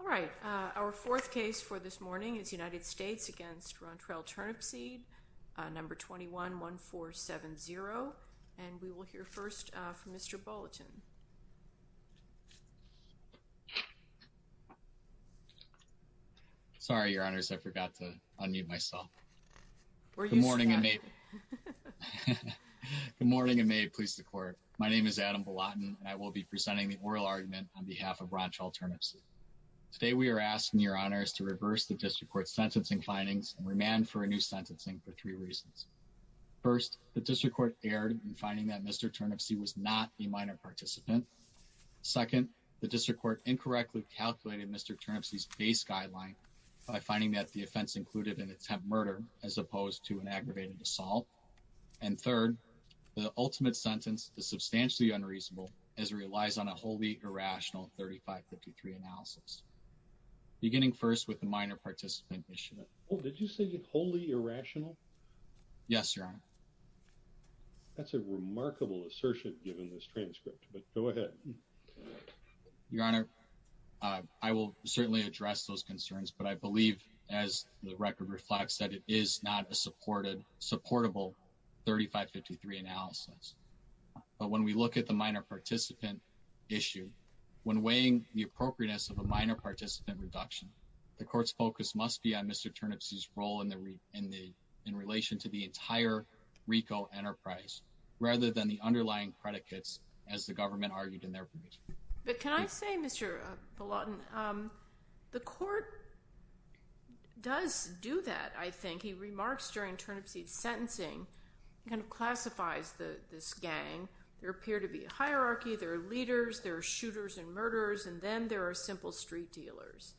All right, our fourth case for this morning is United States v. Rontrell Turnipseed, number 21-1470, and we will hear first from Mr. Bolotin. Sorry, Your Honors, I forgot to unmute myself. Good morning and may it please the court. My name is Adam Bolotin and I will be presenting the oral argument on behalf of Rontrell Turnipseed. Today we are asking Your Honors to reverse the District Court's sentencing findings and remand for a new sentencing for three reasons. First, the District Court erred in finding that Mr. Turnipseed was not the minor participant. Second, the District Court incorrectly calculated Mr. Turnipseed's base guideline by finding that the offense included an attempt murder as opposed to an aggravated assault. And third, the ultimate sentence is substantially unreasonable as it relies on a wholly irrational 3553 analysis, beginning first with the minor participant issue. Did you say wholly irrational? Yes, Your Honor. That's a remarkable assertion given this transcript, but go ahead. Your Honor, I will certainly address those concerns, but I believe, as the record reflects, that it is not a supported, supportable 3553 analysis. But when we look at the minor participant issue, when weighing the appropriateness of a minor participant reduction, the Court's focus must be on Mr. Turnipseed's role in the relation to the entire RICO enterprise, rather than the underlying predicates, as the government argued in their provision. But can I say, Mr. Bolotin, the Court does do that, I think. He remarks during Turnipseed's sentencing, kind of there are shooters and murderers, and then there are simple street dealers.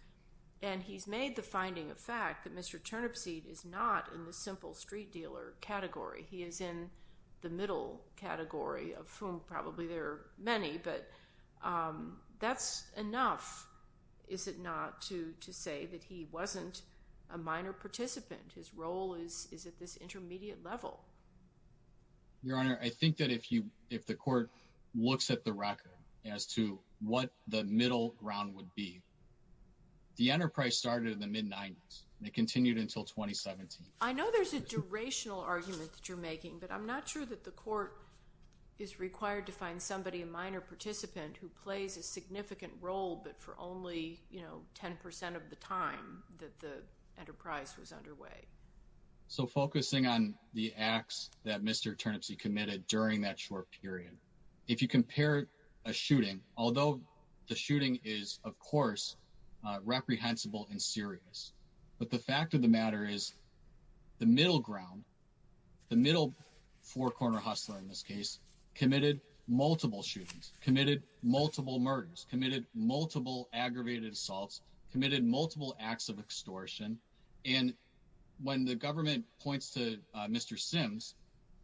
And he's made the finding of fact that Mr. Turnipseed is not in the simple street dealer category. He is in the middle category, of whom probably there are many, but that's enough, is it not, to say that he wasn't a minor participant. His role is at this intermediate level. Your Honor, I think that if you, if the Court looks at the record as to what the middle ground would be, the enterprise started in the mid-90s, and it continued until 2017. I know there's a durational argument that you're making, but I'm not sure that the Court is required to find somebody, a minor participant, who plays a significant role, but for only, you know, 10% of the time that the enterprise was underway. So focusing on the acts that Mr. Turnipseed committed during that short period, if you compare a shooting, although the shooting is, of course, reprehensible and serious, but the fact of the matter is the middle ground, the middle four-corner hustler in this case, committed multiple shootings, committed multiple murders, committed multiple aggravated assaults, committed multiple acts of extortion. And when the government points to Mr. Sims,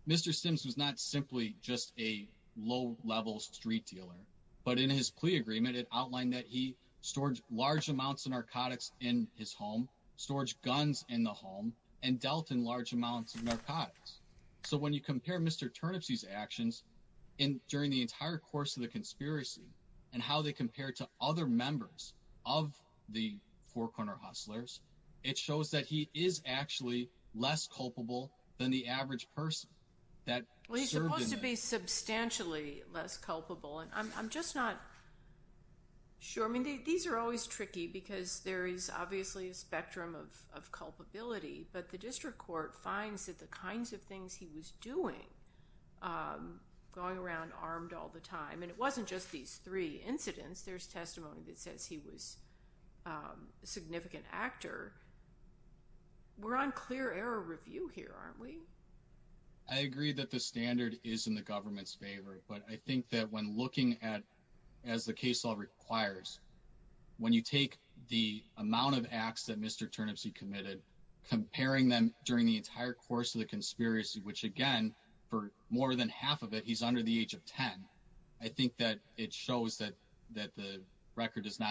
who's not simply just a low level street dealer, but in his plea agreement, it outlined that he stored large amounts of narcotics in his home, storage guns in the home, and dealt in large amounts of narcotics. So when you compare Mr. Turnipseed's actions during the entire course of the conspiracy and how they compare to other members of the four-corner hustlers, it shows that he is actually less culpable than the average person that served in that. He's supposed to be substantially less culpable, and I'm just not sure. I mean, these are always tricky because there is obviously a spectrum of culpability, but the district court finds that the kinds of things he was doing, going around armed all the time, and it wasn't just these three incidents, there's testimony that he was a significant actor. We're on clear error review here, aren't we? I agree that the standard is in the government's favor, but I think that when looking at, as the case law requires, when you take the amount of acts that Mr. Turnipseed committed, comparing them during the entire course of the conspiracy, which again, for more than half of it, he's under the age of 10, I think that would be a significant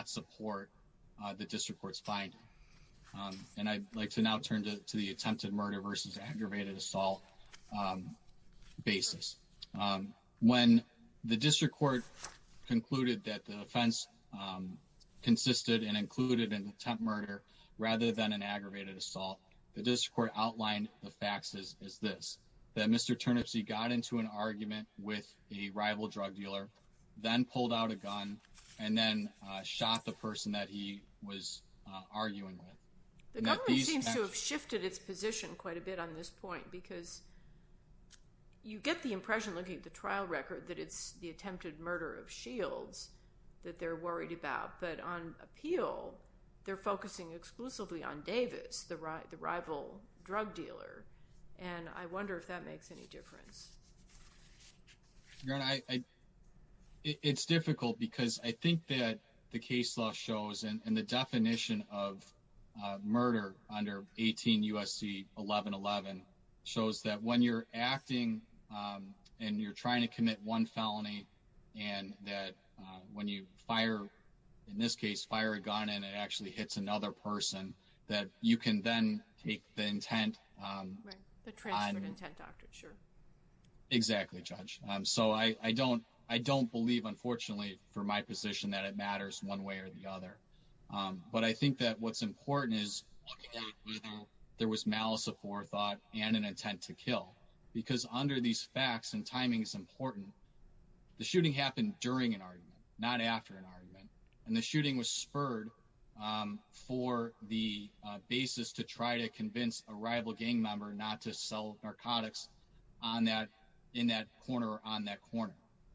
step forward in the district court's finding. And I'd like to now turn to the attempted murder versus aggravated assault basis. When the district court concluded that the offense consisted and included an attempt murder rather than an aggravated assault, the district court outlined the facts as this. That Mr. Turnipseed got into an argument with a rival drug dealer, then pulled out a gun, and then shot the person that he was arguing with. The government seems to have shifted its position quite a bit on this point, because you get the impression, looking at the trial record, that it's the attempted murder of Shields that they're worried about, but on appeal, they're focusing exclusively on Davis, the rival drug dealer, and I wonder if that makes any difference. Your Honor, it's difficult because I think that the case law shows, and the definition of murder under 18 U.S.C. 1111, shows that when you're acting and you're trying to commit one felony, and that when you fire, in this case, fire a gun, and it actually hits another person, that you can then take the intent. Right, the transfer of intent, doctor, sure. Exactly, Judge. So I don't believe, unfortunately, for my position, that it matters one way or the other. But I think that what's important is looking at whether there was malice of forethought and an intent to kill, because under these facts, and timing is important, the shooting happened during an argument, not after an argument, and the shooting was spurred for the basis to try to convince a rival gang member not to sell narcotics on that, in that corner, on that corner.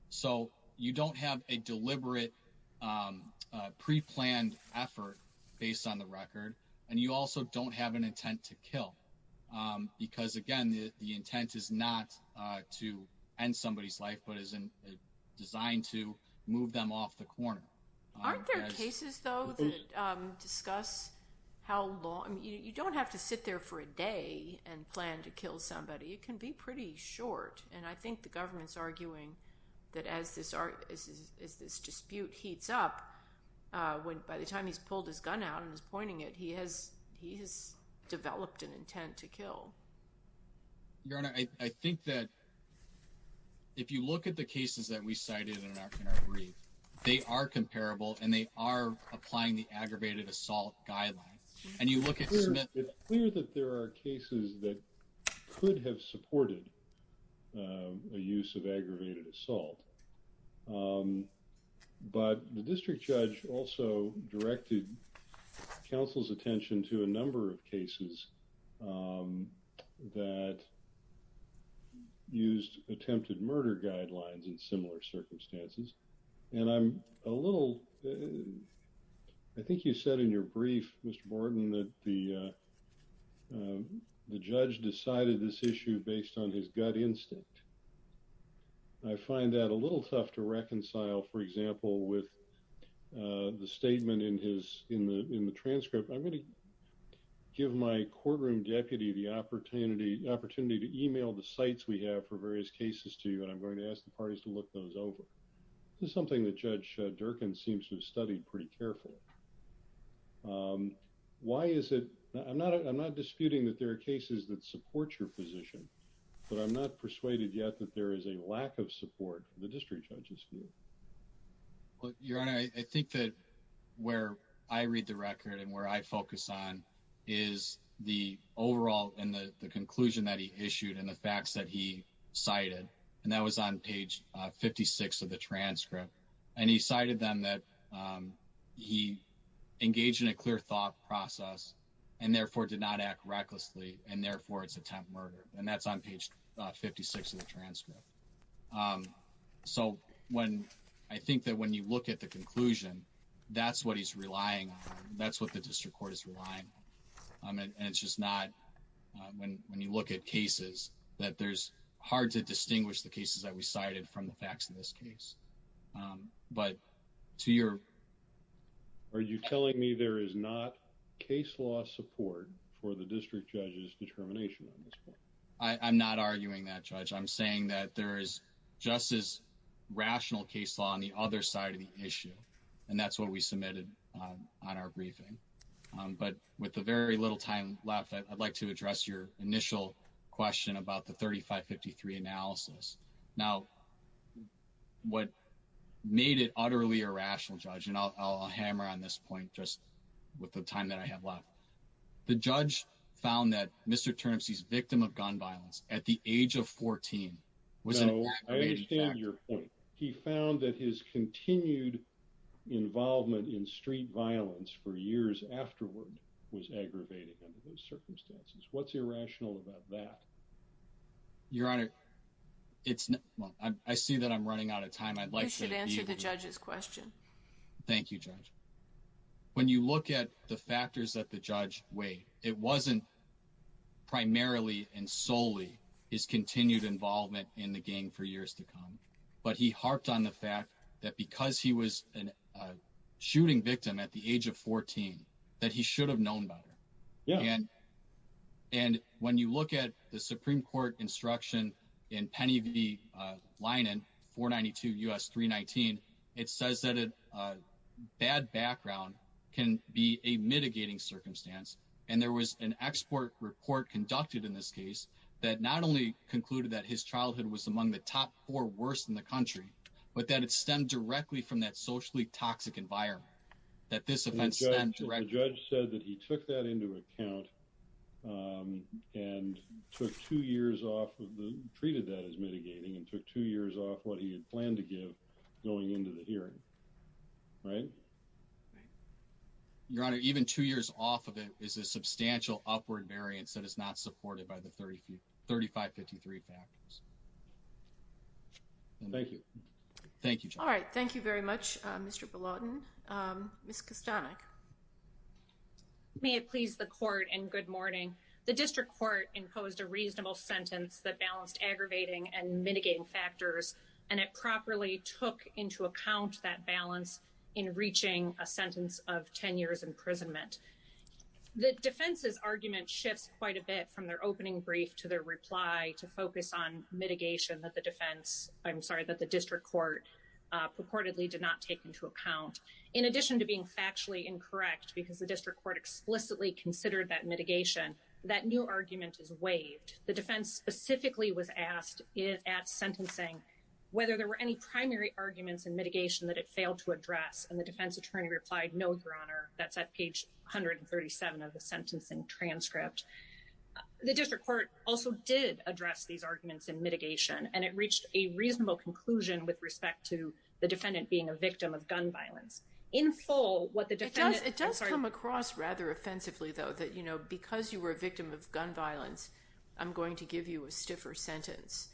So you don't have a deliberate pre-planned effort based on the record, and you also don't have an intent to kill, because again, the intent is not to end somebody's life, but is designed to move them off the corner. Aren't there cases, though, that discuss how long, you don't have to sit there for a day and plan to kill somebody. It can be pretty short, and I think the government's arguing that as this dispute heats up, by the time he's pulled his gun out and he's pointing it, he has developed an intent to kill. Your Honor, I think that if you look at the cases that we cited in our brief, they are comparable, and they are applying the aggravated assault guidelines, and you look at... It's clear that there are cases that could have supported a use of aggravated assault, but the district judge also directed counsel's attention to a number of cases that used attempted murder guidelines in similar circumstances, and I'm a little... I think you said in your brief, Mr. Borden, that the judge decided this issue based on his gut instinct. I find that a little tough to reconcile, for example, with the statement in the transcript. I'm going to give my courtroom deputy the opportunity to email the sites we have for various cases to you, and I'm going to ask the parties to look those over. This is something that Judge Durkan seems to have studied pretty carefully. Why is it... I'm not disputing that there are cases that support your position, but I'm not persuaded yet that there is a lack of support for the district judge's view. Well, Your Honor, I think that where I read the record and where I focus on is the overall and the conclusion that he issued and the facts that he cited, and that was on page 56 of the transcript, and he cited them that he engaged in a clear thought process and therefore did not act recklessly, and therefore it's attempt murder, and that's on page 56 of the transcript. Um, so when I think that when you look at the conclusion, that's what he's relying on. That's what the district court is relying on, and it's just not when you look at cases that there's hard to distinguish the cases that we cited from the facts of this case, but to your... Are you telling me there is not case law support for the district judge's determination on this there is just as rational case law on the other side of the issue, and that's what we submitted on our briefing, but with the very little time left, I'd like to address your initial question about the 3553 analysis. Now, what made it utterly irrational, Judge, and I'll hammer on this point just with the time that I have left. The judge found that Mr. Turnipsey's victim of I understand your point. He found that his continued involvement in street violence for years afterward was aggravated under those circumstances. What's irrational about that? Your Honor, it's... I see that I'm running out of time. I'd like to answer the judge's question. Thank you, Judge. When you look at the factors that the judge weighed, it wasn't primarily and for years to come, but he harped on the fact that because he was a shooting victim at the age of 14, that he should have known better, and when you look at the Supreme Court instruction in Penny v. Linen, 492 U.S. 319, it says that a bad background can be a mitigating circumstance, and there was an export report conducted in this case that not only concluded that his childhood was among the top four worst in the country, but that it stemmed directly from that socially toxic environment, that this offense stemmed directly... The judge said that he took that into account and took two years off of the... treated that as mitigating and took two years off what he had planned to give going into the hearing, right? Your Honor, even two years off of it is a substantial upward variance that is not supported by the 3553 factors. Thank you. Thank you, Judge. All right, thank you very much, Mr. Belauden. Ms. Kostanek. May it please the Court and good morning. The District Court imposed a reasonable sentence that balanced aggravating and mitigating factors, and it properly took into account that balance in reaching a sentence of 10 years imprisonment. The defense's argument shifts quite a bit from their opening brief to their reply to focus on mitigation that the defense... I'm sorry, that the District Court purportedly did not take into account. In addition to being factually incorrect because the District Court explicitly considered that mitigation, that new argument is waived. The defense specifically was asked at sentencing whether there were any primary arguments in mitigation that it failed to address, and the defense attorney replied, no, Your Honor. That's at page 137 of the sentencing transcript. The District Court also did address these arguments in mitigation, and it reached a reasonable conclusion with respect to the defendant being a victim of gun violence. In full, what the defendant... It does come across rather offensively, though, that because you were a victim of gun violence, I'm going to give you a stiffer sentence.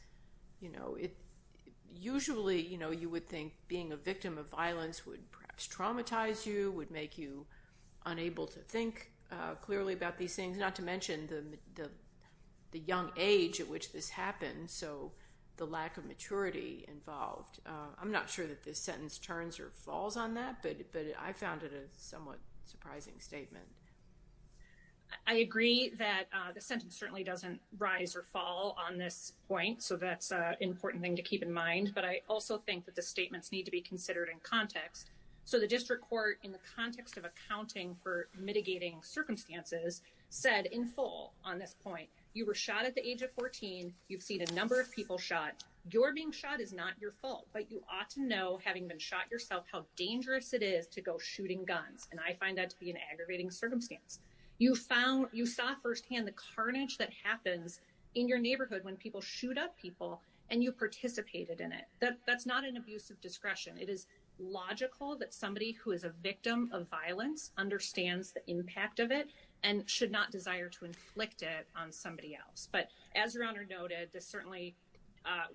Usually, you would think being a victim of gun violence would make you unable to think clearly about these things, not to mention the young age at which this happened, so the lack of maturity involved. I'm not sure that this sentence turns or falls on that, but I found it a somewhat surprising statement. I agree that the sentence certainly doesn't rise or fall on this point, so that's an important thing to keep in mind, but I also think that the statements need to be considered in context. So the District Court, in the context of accounting for mitigating circumstances, said in full on this point, you were shot at the age of 14. You've seen a number of people shot. Your being shot is not your fault, but you ought to know, having been shot yourself, how dangerous it is to go shooting guns, and I find that to be an aggravating circumstance. You saw firsthand the carnage that happens in your neighborhood when people shoot up people, and you participated in it. That's not an abuse of discretion. It is logical that somebody who is a victim of violence understands the impact of it and should not desire to inflict it on somebody else, but as Your Honor noted, this certainly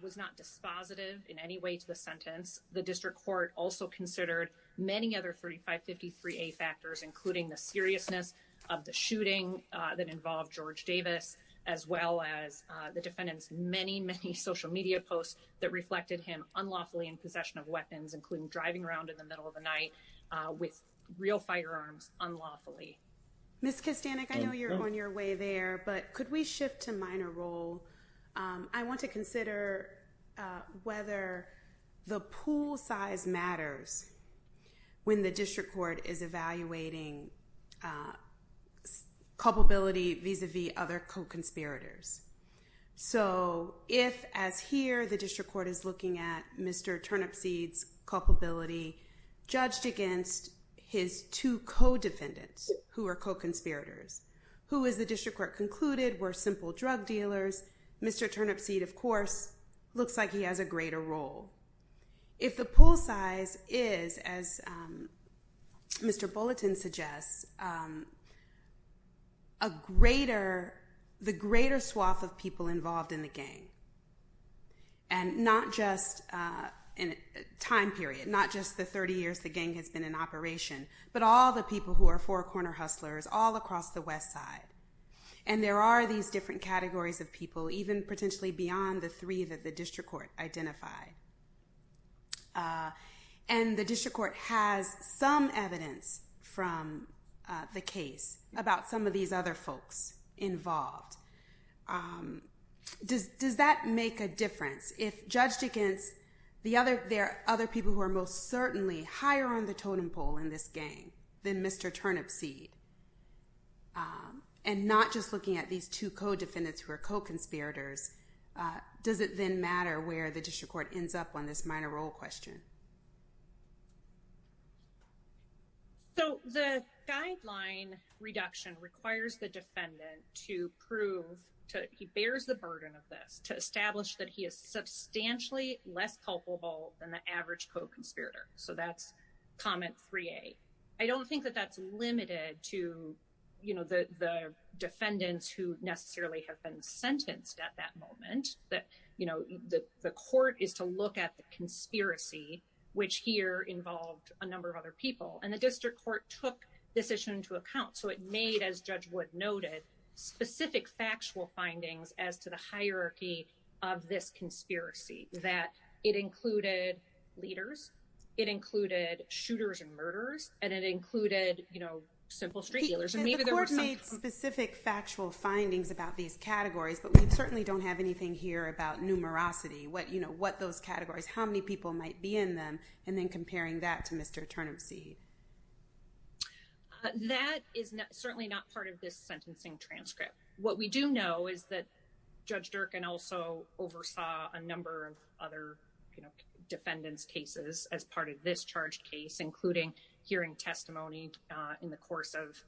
was not dispositive in any way to the sentence. The District Court also considered many other 3553A factors, including the seriousness of the shooting that involved George Davis, as well as the defendant's many, many social media posts that reflected him unlawfully in possession of weapons, including driving around in the middle of the night with real firearms unlawfully. Ms. Kistanik, I know you're on your way there, but could we shift to minor role? I want to consider whether the pool size matters when the District Court is evaluating culpability vis-a-vis other co-conspirators. So if, as here, the District Court is looking at Mr. Turnipseed's culpability judged against his two co-defendants who are co-conspirators, who, as the District Court concluded, were simple drug dealers, Mr. Turnipseed, of course, looks like he has a greater role. If the pool size is, as Mr. Bulletin suggests, the greater swath of people involved in the gang, and not just in a time period, not just the 30 years the gang has been in operation, but all the people who are four-corner hustlers all across the West Side, and there are these different categories of people, even potentially beyond the three that the District Court identify, and the District Court has some evidence from the case about some of these other folks involved, does that make a difference? If judged against the other, there are other people who are most certainly higher on the totem pole in this gang than Mr. Turnipseed, and not just looking at these two co-defendants who are co-conspirators, does it then matter where the District Court ends up on this minor role question? So, the guideline reduction requires the defendant to prove, he bears the burden of this, to establish that he is substantially less culpable than the average co-conspirator, so that's comment 3A. I don't think that that's limited to the defendants who necessarily have been sentenced at that moment. The court is to look at the conspiracy, which here involved a number of other people, and the District Court took this issue into account, so it made, as Judge Wood noted, specific factual findings as to the hierarchy of this conspiracy, that it included leaders, it included shooters and murderers, and it included simple street dealers. Can the court make specific factual findings about these categories, but we certainly don't have anything here about numerosity, what those categories, how many people might be in them, and then comparing that to Mr. Turnipseed? That is certainly not part of this sentencing transcript. What we do know is that Judge Durkan also oversaw a number of other defendants' cases as part of this charged case, including hearing testimony in the course of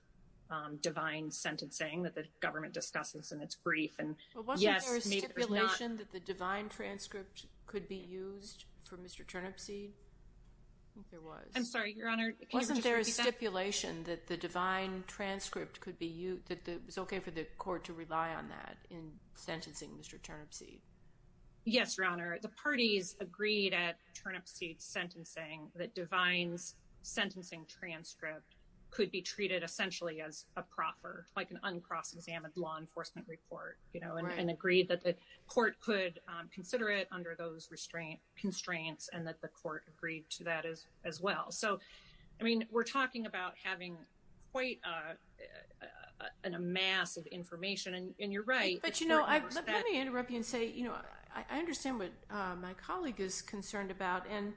Divine's sentencing that the government discusses in its brief. But wasn't there a stipulation that the Divine transcript could be used for Mr. Turnipseed? I think there was. I'm sorry, Your Honor. Wasn't there a stipulation that the Divine transcript could be used, that it was okay for the court to rely on that in sentencing Mr. Yes, Your Honor. The parties agreed at Turnipseed's sentencing that Divine's sentencing transcript could be treated essentially as a proper, like an uncross-examined law enforcement report, you know, and agreed that the court could consider it under those restraints, and that the court agreed to that as well. So, I mean, we're talking about having quite a mass of information, and you're right. But, you know, let me interrupt you and say, you know, I understand what my colleague is concerned about, and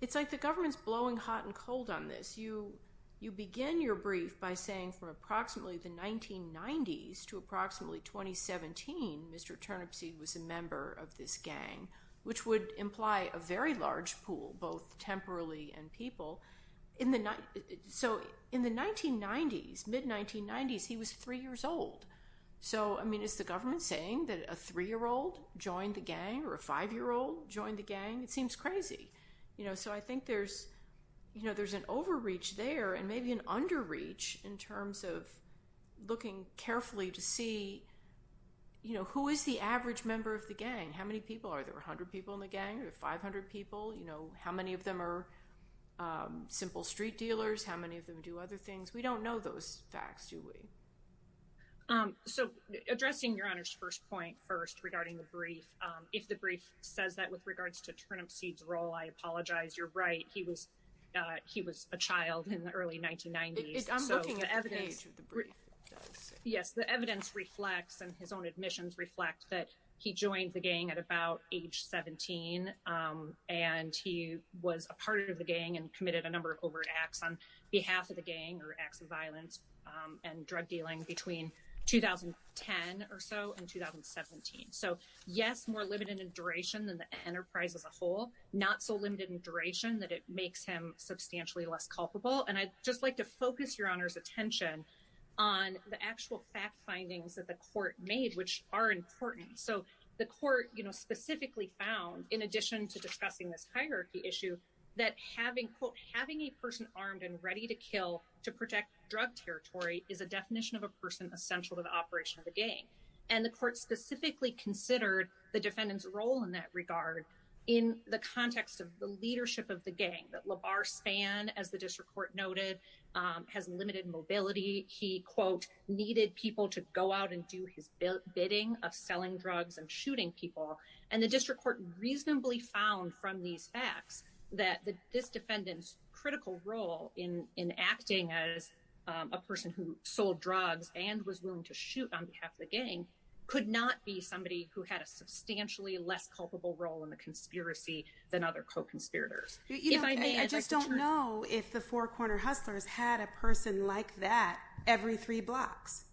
it's like the government's blowing hot and cold on this. You begin your brief by saying from approximately the 1990s to approximately 2017, Mr. Turnipseed was a member of this gang, which would imply a very large pool, both temporally and people. In the, so in the 1990s, mid-1990s, he was three years old. So, I mean, is the government saying that a three-year-old joined the gang, or a five-year-old joined the gang? It seems crazy. You know, so I think there's, you know, there's an overreach there, and maybe an underreach in terms of looking carefully to see, you know, who is the average member of the gang? How many people are there? Are there 100 people in the gang or 500 people? You know, how many of them are simple street dealers? How many of them do other things? We don't know those facts, do we? So, addressing Your Honor's first point first regarding the brief, if the brief says that with regards to Turnipseed's role, I apologize. You're right. He was, he was a child in the early 1990s. I'm looking at the page of the brief. Yes, the evidence reflects, and his own admissions reflect that he joined the gang at about age 17, and he was a part of the gang and committed a number of overt acts on behalf of the gang or acts of violence and drug dealing between 2010 or so and 2017. So, yes, more limited in duration than the enterprise as a whole, not so limited in duration that it makes him substantially less culpable. And I'd just like to focus Your Honor's attention on the actual fact findings that the court made, which are important. So, the court, you know, specifically found, in addition to discussing this hierarchy issue, that having, quote, having a person armed and ready to kill to protect drug territory is a definition of a person essential to the operation of the gang. And the court specifically considered the defendant's role in that regard, in the context of the leadership of the gang that LaVar Spann, as the district court noted, has limited mobility. He, quote, needed people to go out and do his bidding of selling drugs and shooting people. And the district court reasonably found from these facts that this defendant's critical role in acting as a person who sold drugs and was willing to shoot on behalf of the gang could not be somebody who had a substantially less culpable role in the conspiracy than other co-conspirators. You know, I just don't know if the Four Corner Hustlers had a person like that every three blocks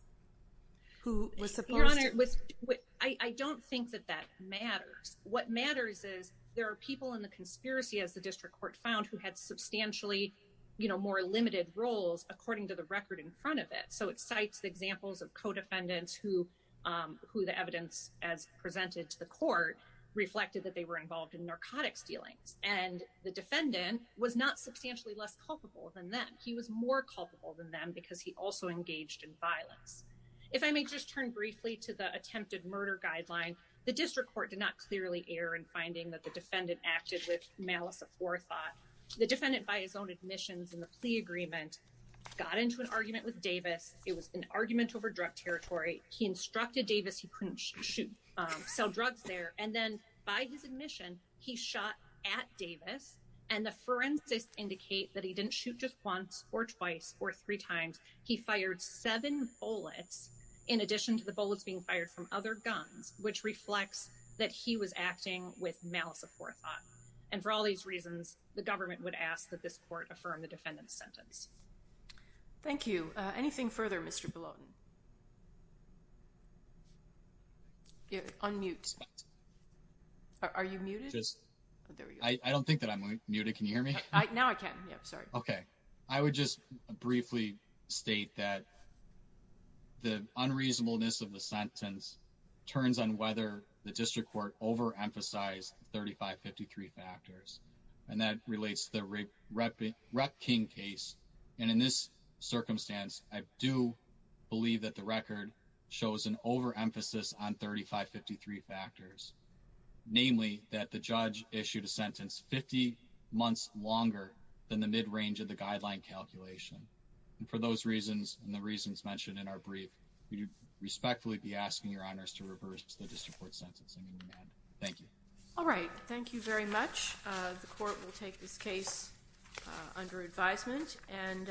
who was supposed to. Your Honor, I don't think that that matters. What matters is there are people in the conspiracy, as the district court found, who had substantially, you know, more limited roles according to the record in front of it. It cites the examples of co-defendants who the evidence, as presented to the court, reflected that they were involved in narcotics dealings. And the defendant was not substantially less culpable than them. He was more culpable than them because he also engaged in violence. If I may just turn briefly to the attempted murder guideline, the district court did not clearly err in finding that the defendant acted with malice aforethought. The defendant, by his admissions and the plea agreement, got into an argument with Davis. It was an argument over drug territory. He instructed Davis he couldn't shoot, sell drugs there. And then by his admission, he shot at Davis. And the forensics indicate that he didn't shoot just once or twice or three times. He fired seven bullets in addition to the bullets being fired from other guns, which reflects that he was acting with malice aforethought. And for all these reasons, the government would ask that this court affirm the defendant's sentence. Thank you. Anything further, Mr. Belotin? Unmute. Are you muted? I don't think that I'm muted. Can you hear me? Now I can. Yeah, sorry. Okay. I would just briefly state that the unreasonableness of the sentence turns on whether the district court overemphasized 3553 factors. And that relates to the Rep King case. And in this circumstance, I do believe that the record shows an overemphasis on 3553 factors, namely that the judge issued a sentence 50 months longer than the mid-range of the guideline calculation. And for those reasons and the reasons mentioned in our brief, we would respectfully be asking your honors to reverse the district court sentence. Thank you. All right. Thank you very much. The court will take this case under advisement and